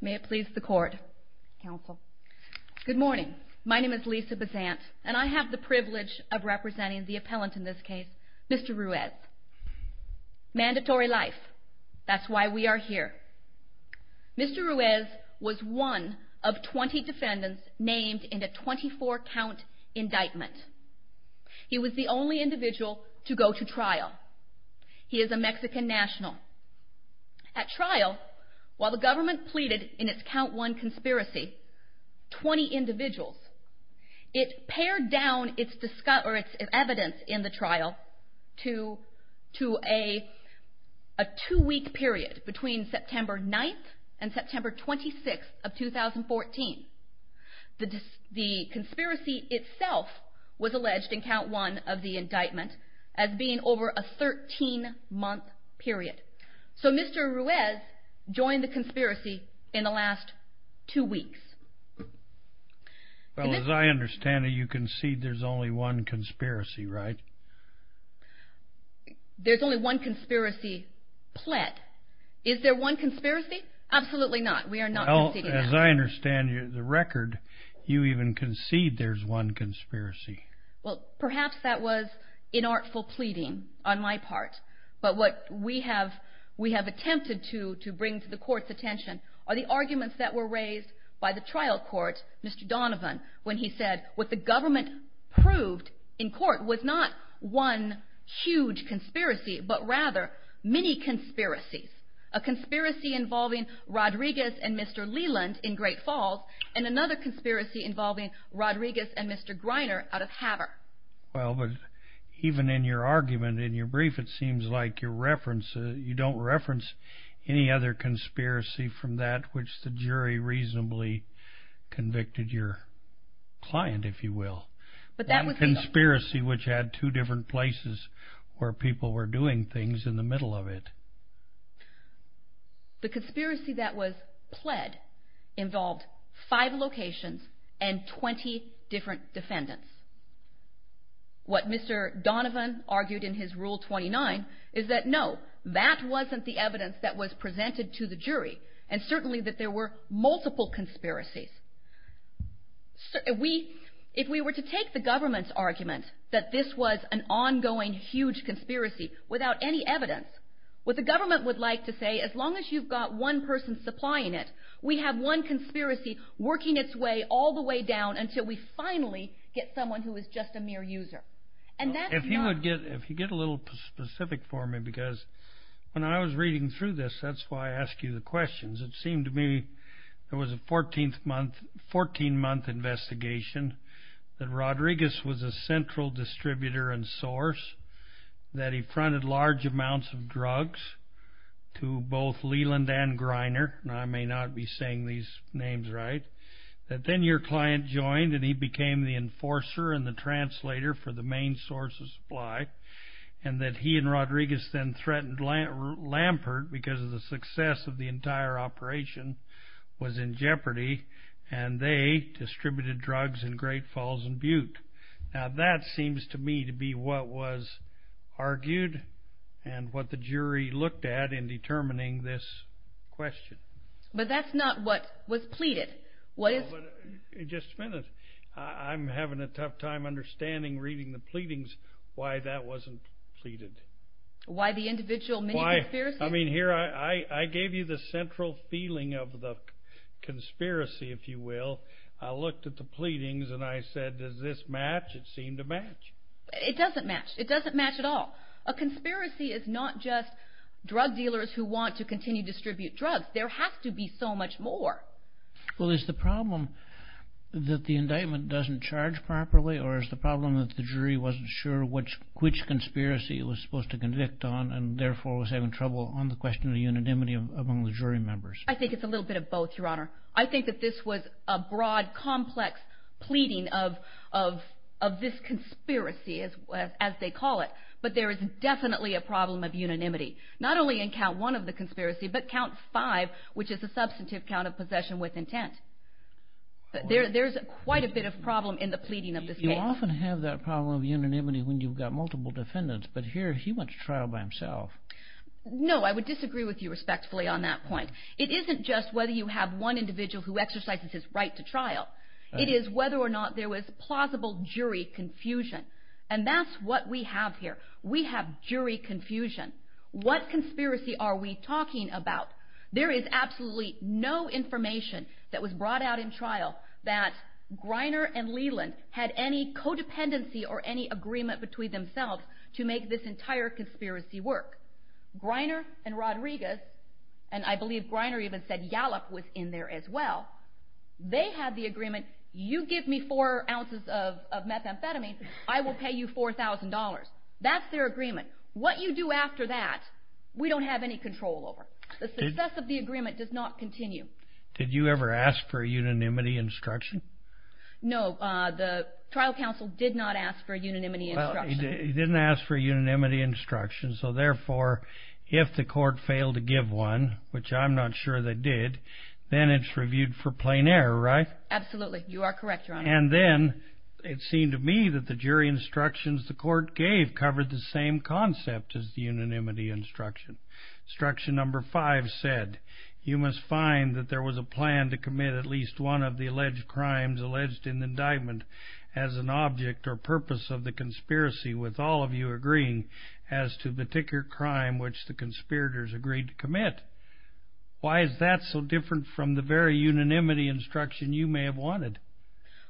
May it please the court. Good morning. My name is Lisa Basant and I have the privilege of representing the appellant in this case, Mr. Ruiz. Mandatory life. That's why we are here. Mr. Ruiz was one of 20 defendants named in a 24 count indictment. He was the only individual to go to trial. He is a Mexican national. At trial, he was found guilty of murder. While the government pleaded in its count one conspiracy, 20 individuals, it pared down its evidence in the trial to a two-week period between September 9th and September 26th of 2014. The conspiracy itself was alleged in count one of the indictment as being over a 13-month period. So Mr. Ruiz was found guilty of murder. He was found guilty of murder. He was found guilty of murder. He was found guilty of murder. He was found guilty of murder. The government joined the conspiracy in the last two weeks. Well, as I understand it, you concede there's only one conspiracy, right? There's only one conspiracy pled. Is there one conspiracy? Absolutely not. As I understand the record, you even concede there's one conspiracy. Perhaps that was inartful pleading on my part. But what we have attempted to bring to the court's attention are the arguments that were raised by the trial court, Mr. Donovan, when he said what the government proved in court was not one huge conspiracy, but rather many conspiracies. A conspiracy involving Rodriguez and Mr. Leland in Great Falls, and another conspiracy involving Rodriguez and Mr. Griner out of Havre. Well, but even in your argument in your brief, it seems like you don't reference any other conspiracy from that which the jury reasonably convicted your client, if you will. A conspiracy which had two different places where people were doing things in the middle of it. The conspiracy that was pled involved five locations and 20 different defendants. What Mr. Donovan argued in his Rule 29 is that no, that wasn't the evidence that was presented to the jury, and certainly that there were multiple conspiracies. If we were to take the government's argument that this was an ongoing huge conspiracy without any evidence, what the government would like to say, as long as you've got one person supplying it, we have one conspiracy working its way all the way down until we finally get someone who is just a mere user. If you get a little specific for me, because when I was reading through this, that's why I asked you the questions. It seemed to me there was a 14-month investigation that Rodriguez was a central distributor and source, that he fronted large amounts of drugs to both Leland and Griner. Now, I may not be saying these names right. That then your client joined, and he became the enforcer and the translator for the main source of supply, and that he and Rodriguez then threatened Lampert because the success of the entire operation was in jeopardy, and they distributed drugs in Great Falls and Butte. Now, that seems to me to be what was argued and what the jury looked at in determining this question. But that's not what was pleaded. Just a minute. I'm having a tough time understanding, reading the pleadings, why that wasn't pleaded. Why the individual mini-conspiracies? I gave you the central feeling of the conspiracy, if you will. I looked at the pleadings, and I said, does this match? It seemed to match. It doesn't match. It doesn't match at all. A conspiracy is not just drug dealers who want to continue to distribute drugs. There has to be so much more. Well, is the problem that the indictment doesn't charge properly, or is the problem that the jury wasn't sure which conspiracy it was supposed to convict on, and therefore was having trouble on the question of unanimity among the jury members? I think it's a little bit of both, Your Honor. I think that this was a broad, complex pleading of this conspiracy, as they call it. But there is definitely a problem of unanimity. Not only in count one of the conspiracy, but count five, which is a substantive count of possession with intent. There's quite a bit of problem in the pleading of this case. You often have that problem of unanimity when you've got multiple defendants, but here he went to trial by himself. No, I would disagree with you respectfully on that point. It isn't just whether you have one individual who exercises his right to trial. It is whether or not there was plausible jury confusion. And that's what we have here. We have jury confusion. What conspiracy are we talking about? There is absolutely no information that was brought out in trial that Greiner and Leland had any codependency or any agreement between themselves to make this entire conspiracy work. Greiner and Rodriguez, and I believe Greiner even said Yalop was in there as well, they had the agreement, you give me four ounces of methamphetamine, I will pay you $4,000. That's their agreement. What you do after that, we don't have any control over. The success of the agreement does not continue. Did you ever ask for a unanimity instruction? No, the trial counsel did not ask for a unanimity instruction. He didn't ask for a unanimity instruction, so therefore if the court failed to give one, which I'm not sure they did, then it's reviewed for plain error, right? Absolutely. You are correct, Your Honor. And then it seemed to me that the jury instructions the court gave covered the same concept as the unanimity instruction. Instruction number five said, you must find that there was a plan to commit at least one of the alleged crimes alleged in the indictment as an object or purpose of the conspiracy with all of you agreeing as to the particular crime which the conspirators agreed to commit. Why is that so different from the very unanimity instruction you may have wanted?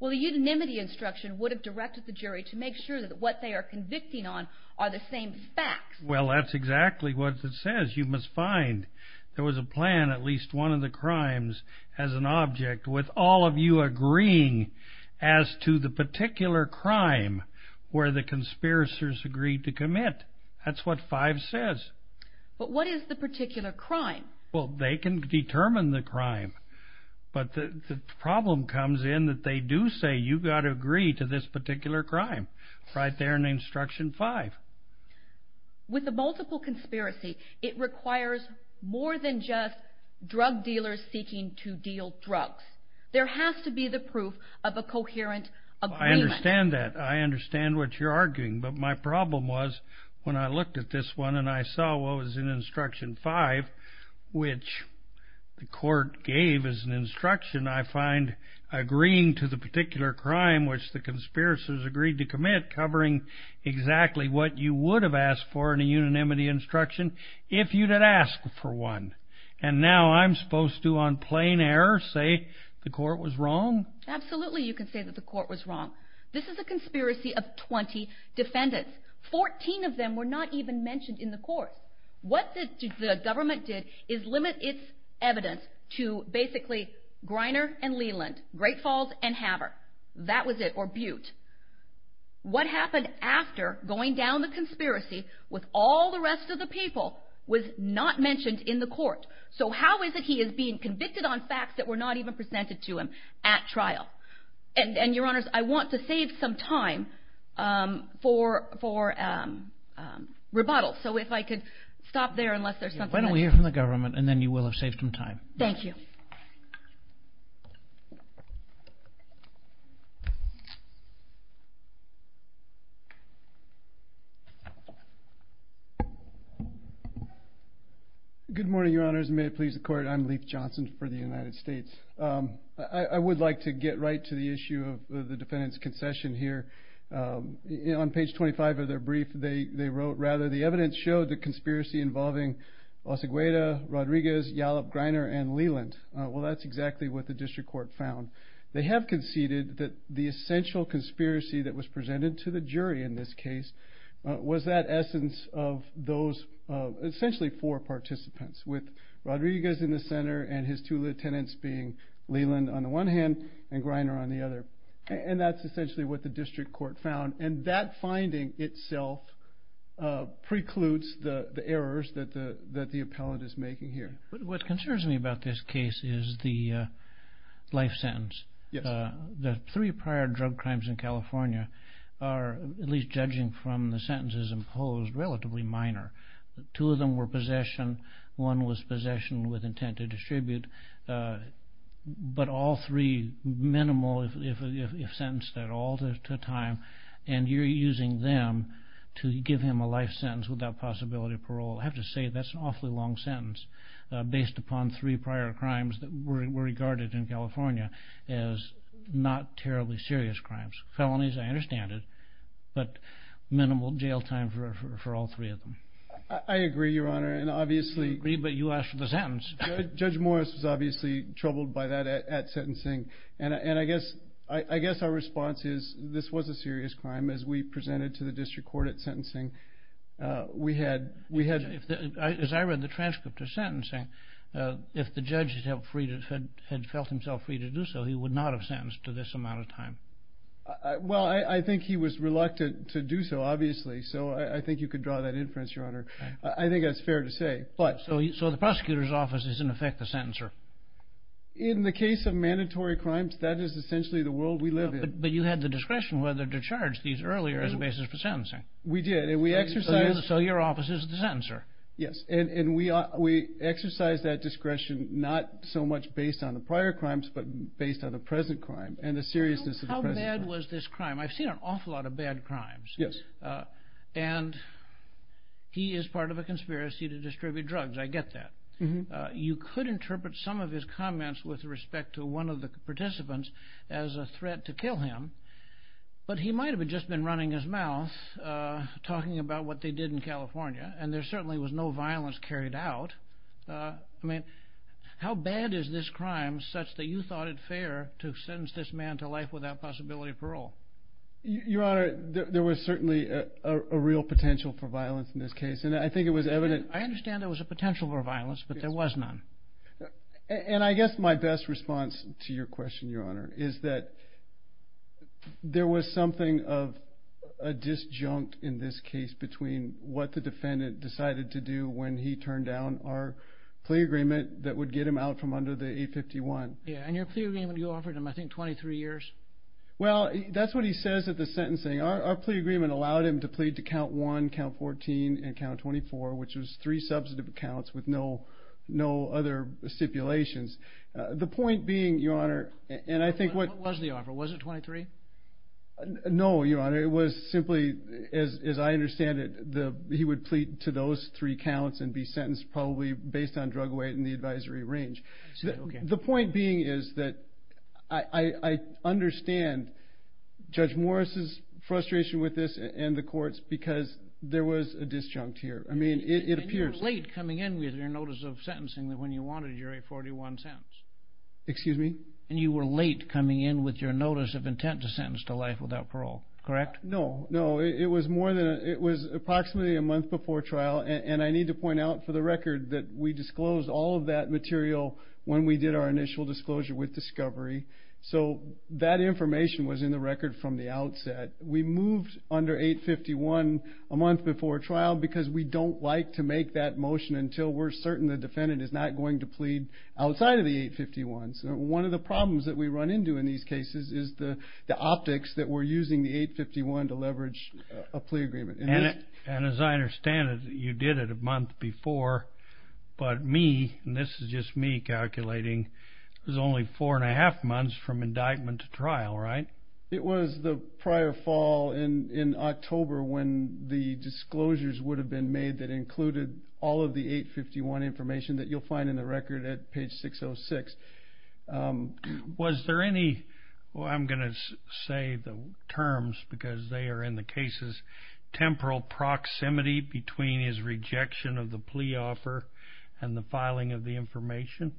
Well, the unanimity instruction would have directed the jury to make sure that what they are convicting on are the same facts. Well, that's exactly what it says. You must find there was a plan, at least one of the crimes, as an object with all of you agreeing as to the particular crime where the conspirators agreed to commit. That's what five says. But what is the particular crime? Well, they can determine the crime, but the problem comes in that they do say you've got to agree to this particular crime right there in instruction five. With a multiple conspiracy, it requires more than just drug dealers seeking to deal drugs. There has to be the proof of a coherent agreement. I understand that. I understand what you're arguing. But my problem was when I looked at this one and I saw what was in instruction five, which the court gave as an instruction, I find agreeing to the particular crime which the conspirators agreed to commit covering exactly what you would have asked for in a unanimity instruction if you had asked for one. And now I'm supposed to, on plain error, say the court was wrong? Absolutely, you can say that the court was wrong. This is a conspiracy of 20 defendants. Fourteen of them were not even mentioned in the court. What the government did is limit its evidence to basically Greiner and Leland, Great Falls and Havre. That was it, or Butte. What happened after going down the conspiracy with all the rest of the people was not mentioned in the court. So how is it he is being convicted on facts that were not even presented to him at trial? And, Your Honors, I want to save some time for rebuttal. So if I could stop there unless there's something else. Why don't we hear from the government and then you will have saved some time. Thank you. Good morning, Your Honors. May it please the Court. I'm Leif Johnson for the United States. I would like to get right to the issue of the defendant's concession here. On page 25 of their brief, they wrote, rather, the evidence showed the conspiracy involving Osagueda, Rodriguez, Yallop, Greiner, and Leland. Well, that's exactly what the district court found. They have conceded that the essential conspiracy that was presented to the jury in this case was that essence of those essentially four participants, with Rodriguez in the center and his two lieutenants being Leland on the one hand and Greiner on the other. And that's essentially what the district court found. And that finding itself precludes the errors that the appellant is making here. What concerns me about this case is the life sentence. Yes. The three prior drug crimes in California are, at least judging from the sentences imposed, relatively minor. Two of them were possession. One was possession with intent to distribute. But all three, minimal if sentenced at all to time. And you're using them to give him a life sentence without possibility of parole. I have to say that's an awfully long sentence, based upon three prior crimes that were regarded in California as not terribly serious crimes. Felonies, I understand it, but minimal jail time for all three of them. I agree, Your Honor. But you asked for the sentence. Judge Morris was obviously troubled by that at sentencing. And I guess our response is this was a serious crime. As we presented to the district court at sentencing, we had... As I read the transcript of sentencing, if the judge had felt himself free to do so, he would not have sentenced to this amount of time. Well, I think he was reluctant to do so, obviously. So I think you could draw that inference, Your Honor. I think that's fair to say. So the prosecutor's office is, in effect, the sentencer. In the case of mandatory crimes, that is essentially the world we live in. But you had the discretion whether to charge these earlier as a basis for sentencing. We did, and we exercised... So your office is the sentencer. Yes, and we exercised that discretion not so much based on the prior crimes, but based on the present crime and the seriousness of the present crime. How bad was this crime? I've seen an awful lot of bad crimes. Yes. And he is part of a conspiracy to distribute drugs. I get that. You could interpret some of his comments with respect to one of the participants as a threat to kill him, but he might have just been running his mouth talking about what they did in California. And there certainly was no violence carried out. I mean, how bad is this crime such that you thought it fair to sentence this man to life without possibility of parole? Your Honor, there was certainly a real potential for violence in this case, and I think it was evident... I understand there was a potential for violence, but there was none. And I guess my best response to your question, Your Honor, is that there was something of a disjunct in this case between what the defendant decided to do when he turned down our plea agreement that would get him out from under the 851. And your plea agreement, you offered him, I think, 23 years? Well, that's what he says at the sentencing. Our plea agreement allowed him to plead to Count 1, Count 14, and Count 24, which was three substantive accounts with no other stipulations. The point being, Your Honor, and I think what... What was the offer? Was it 23? No, Your Honor. It was simply, as I understand it, he would plead to those three counts and be sentenced probably based on drug weight and the advisory range. The point being is that I understand Judge Morris' frustration with this and the court's because there was a disjunct here. I mean, it appears... And you were late coming in with your notice of sentencing when you wanted your 841 sentence. Excuse me? And you were late coming in with your notice of intent to sentence to life without parole. Correct? No, no. It was more than... It was approximately a month before trial, and I need to point out for the record that we disclosed all of that material when we did our initial disclosure with discovery. So that information was in the record from the outset. We moved under 851 a month before trial because we don't like to make that motion until we're certain the defendant is not going to plead outside of the 851. So one of the problems that we run into in these cases is the optics that we're using the 851 to leverage a plea agreement. And as I understand it, you did it a month before, but me, and this is just me calculating, it was only four and a half months from indictment to trial, right? It was the prior fall in October when the disclosures would have been made that included all of the 851 information that you'll find in the record at page 606. Was there any... I'm going to say the terms because they are in the cases. Temporal proximity between his rejection of the plea offer and the filing of the information?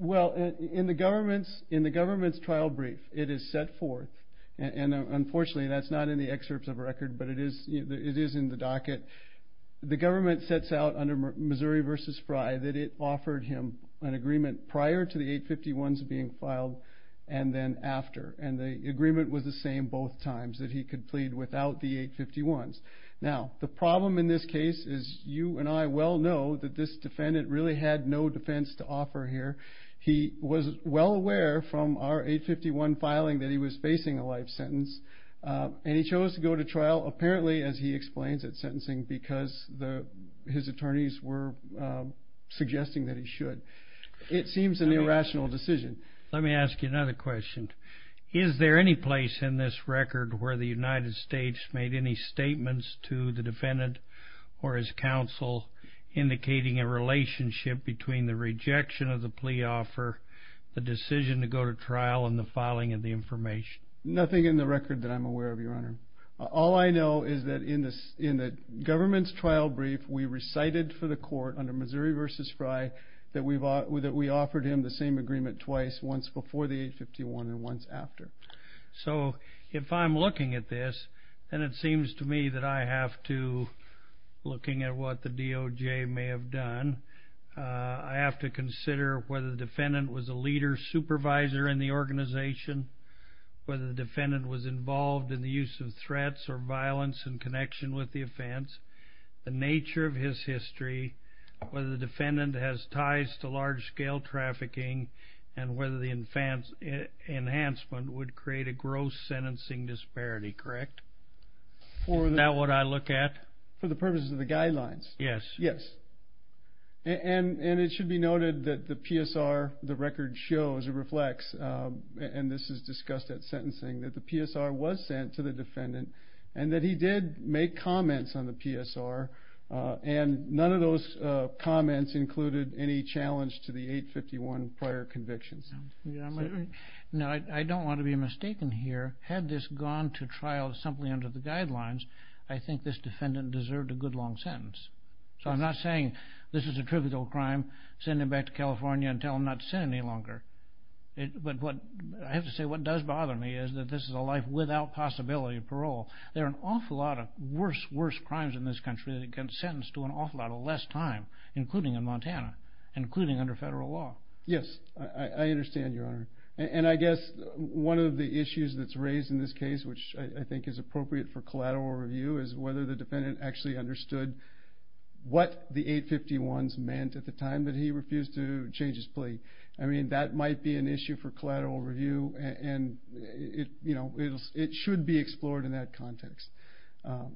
Well, in the government's trial brief, it is set forth, and unfortunately that's not in the excerpts of record, but it is in the docket. The government sets out under Missouri v. Fry that it offered him an agreement prior to the 851s being filed and then after. And the agreement was the same both times, that he could plead without the 851s. Now, the problem in this case is you and I well know that this defendant really had no defense to offer here. He was well aware from our 851 filing that he was facing a life sentence, and he chose to go to trial, apparently, as he explains, at sentencing because his attorneys were suggesting that he should. It seems an irrational decision. Let me ask you another question. Is there any place in this record where the United States made any statements to the defendant or his counsel indicating a relationship between the rejection of the plea offer, the decision to go to trial, and the filing of the information? Nothing in the record that I'm aware of, Your Honor. All I know is that in the government's trial brief, we recited for the court under Missouri v. Fry that we offered him the same agreement twice, once before the 851 and once after. So if I'm looking at this, then it seems to me that I have to, looking at what the DOJ may have done, I have to consider whether the defendant was a leader supervisor in the organization, whether the defendant was involved in the use of threats or violence in connection with the offense, the nature of his history, whether the defendant has ties to large-scale trafficking, and whether the enhancement would create a gross sentencing disparity, correct? Is that what I look at? For the purposes of the guidelines. Yes. And it should be noted that the PSR, the record shows, it reflects, and this is discussed at sentencing, that the PSR was sent to the defendant, and that he did make comments on the PSR, and none of those comments included any challenge to the 851 prior convictions. I don't want to be mistaken here. Had this gone to trial simply under the guidelines, I think this defendant deserved a good long sentence. So I'm not saying this is a trivial crime, send him back to California and tell him not to send any longer. But I have to say what does bother me is that this is a life without possibility of parole. There are an awful lot of worse, worse crimes in this country that get sentenced to an awful lot of less time, including in Montana, including under federal law. Yes, I understand, Your Honor. And I guess one of the issues that's raised in this case, which I think is appropriate for collateral review, is whether the defendant actually understood what the 851s meant at the time that he refused to change his plea. I mean, that might be an issue for collateral review, and it should be explored in that context.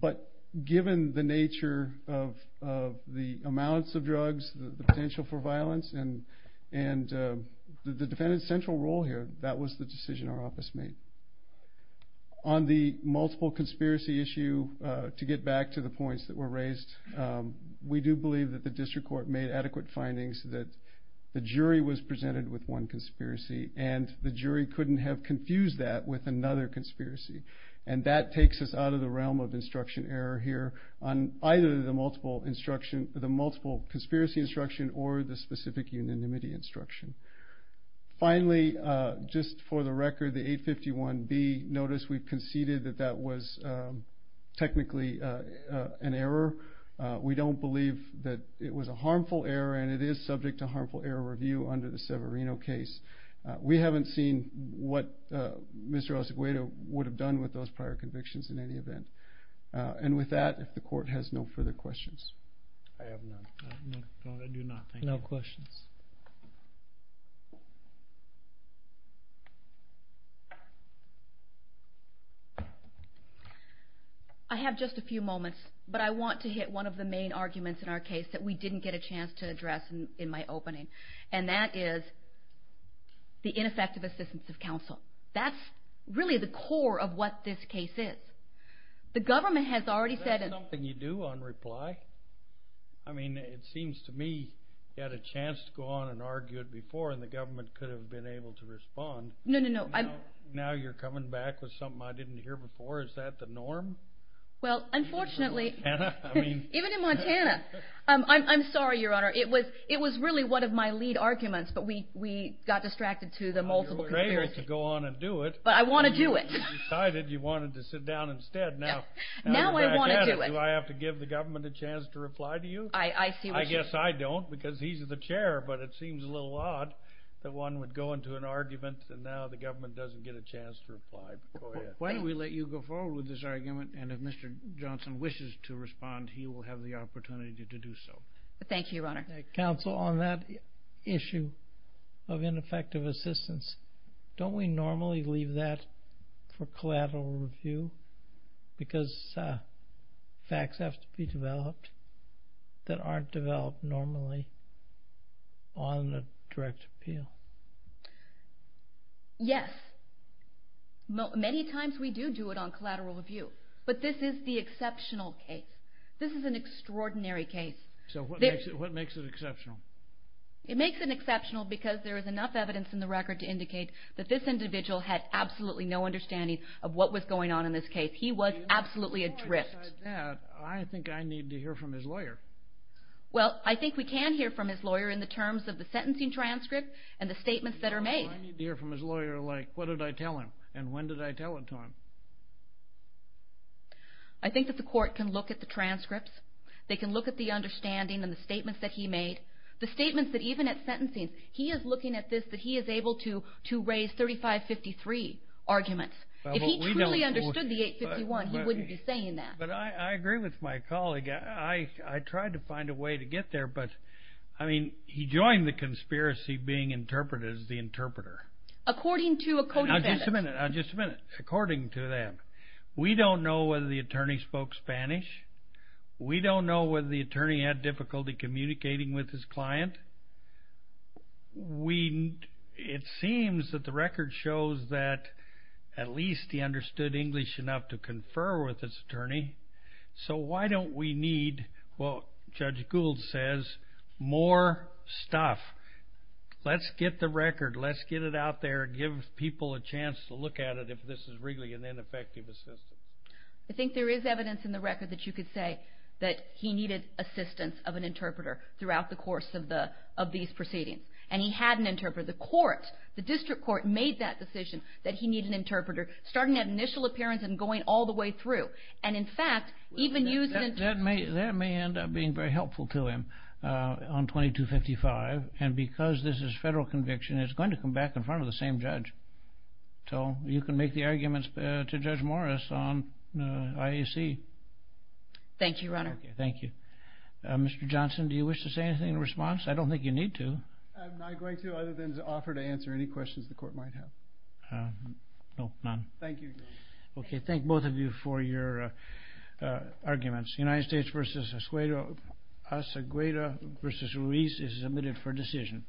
But given the nature of the amounts of drugs, the potential for violence, and the defendant's central role here, that was the decision our office made. On the multiple conspiracy issue, to get back to the points that were raised, we do believe that the district court made adequate findings that the jury was presented with one conspiracy, and the jury couldn't have confused that with another conspiracy. And that takes us out of the realm of instruction error here on either the multiple conspiracy instruction or the specific unanimity instruction. Finally, just for the record, the 851B, notice we conceded that that was technically an error. We don't believe that it was a harmful error, and it is subject to harmful error review under the Severino case. We haven't seen what Mr. Osaguedo would have done with those prior convictions in any event. And with that, if the court has no further questions. I have none. I do not, thank you. No questions. I have just a few moments, but I want to hit one of the main arguments in our case that we didn't get a chance to address in my opening, and that is the ineffective assistance of counsel. That's really the core of what this case is. The government has already said... Is that something you do on reply? I mean, it seems to me you had a chance to go on and argue it before, and the government could have been able to respond. No, no, no. Now you're coming back with something I didn't hear before. Is that the norm? Well, unfortunately... In Montana? Even in Montana. I'm sorry, Your Honor. It was really one of my lead arguments, but we got distracted to the multiple conspiracy. You were afraid to go on and do it. But I want to do it. You decided you wanted to sit down instead. Now you're back at it. Now I want to do it. Do I have to give the government a chance to reply to you? I see what you mean. I guess I don't, because he's the chair, but it seems a little odd that one would go into an argument, and now the government doesn't get a chance to reply before you. Why don't we let you go forward with this argument, and if Mr. Johnson wishes to respond, he will have the opportunity to do so. Thank you, Your Honor. Counsel, on that issue of ineffective assistance, don't we normally leave that for collateral review because facts have to be developed that aren't developed normally on a direct appeal? Yes. Many times we do do it on collateral review, but this is the exceptional case. This is an extraordinary case. So what makes it exceptional? It makes it exceptional because there is enough evidence in the record to indicate that this individual had absolutely no understanding of what was going on in this case. He was absolutely adrift. I think I need to hear from his lawyer. Well, I think we can hear from his lawyer in the terms of the sentencing transcript and the statements that are made. I need to hear from his lawyer, like, what did I tell him, and when did I tell it to him? I think that the court can look at the transcripts. They can look at the understanding and the statements that he made. The statements that even at sentencing, he is looking at this that he is able to raise 3553 arguments. If he truly understood the 851, he wouldn't be saying that. But I agree with my colleague. I tried to find a way to get there, but he joined the conspiracy being interpreted as the interpreter. According to a code of ethics. Just a minute. According to that, we don't know whether the attorney spoke Spanish. We don't know whether the attorney had difficulty communicating with his client. It seems that the record shows that at least he understood English enough to confer with his attorney. So why don't we need, well, Judge Gould says, more stuff. Let's get the record. Let's get it out there and give people a chance to look at it if this is really an ineffective assistance. I think there is evidence in the record that you could say that he needed assistance of an interpreter throughout the course of these proceedings. And he had an interpreter. The court, the district court, made that decision that he needed an interpreter, starting at initial appearance and going all the way through. And, in fact, even using an interpreter. That may end up being very helpful to him on 2255. And because this is a federal conviction, it's going to come back in front of the same judge. So you can make the arguments to Judge Morris on IAC. Thank you, Your Honor. Thank you. Mr. Johnson, do you wish to say anything in response? I don't think you need to. I'm not going to other than to offer to answer any questions the court might have. No, none. Thank you, Your Honor. Okay. Thank both of you for your arguments. United States v. Asagreda v. Ruiz is admitted for decision.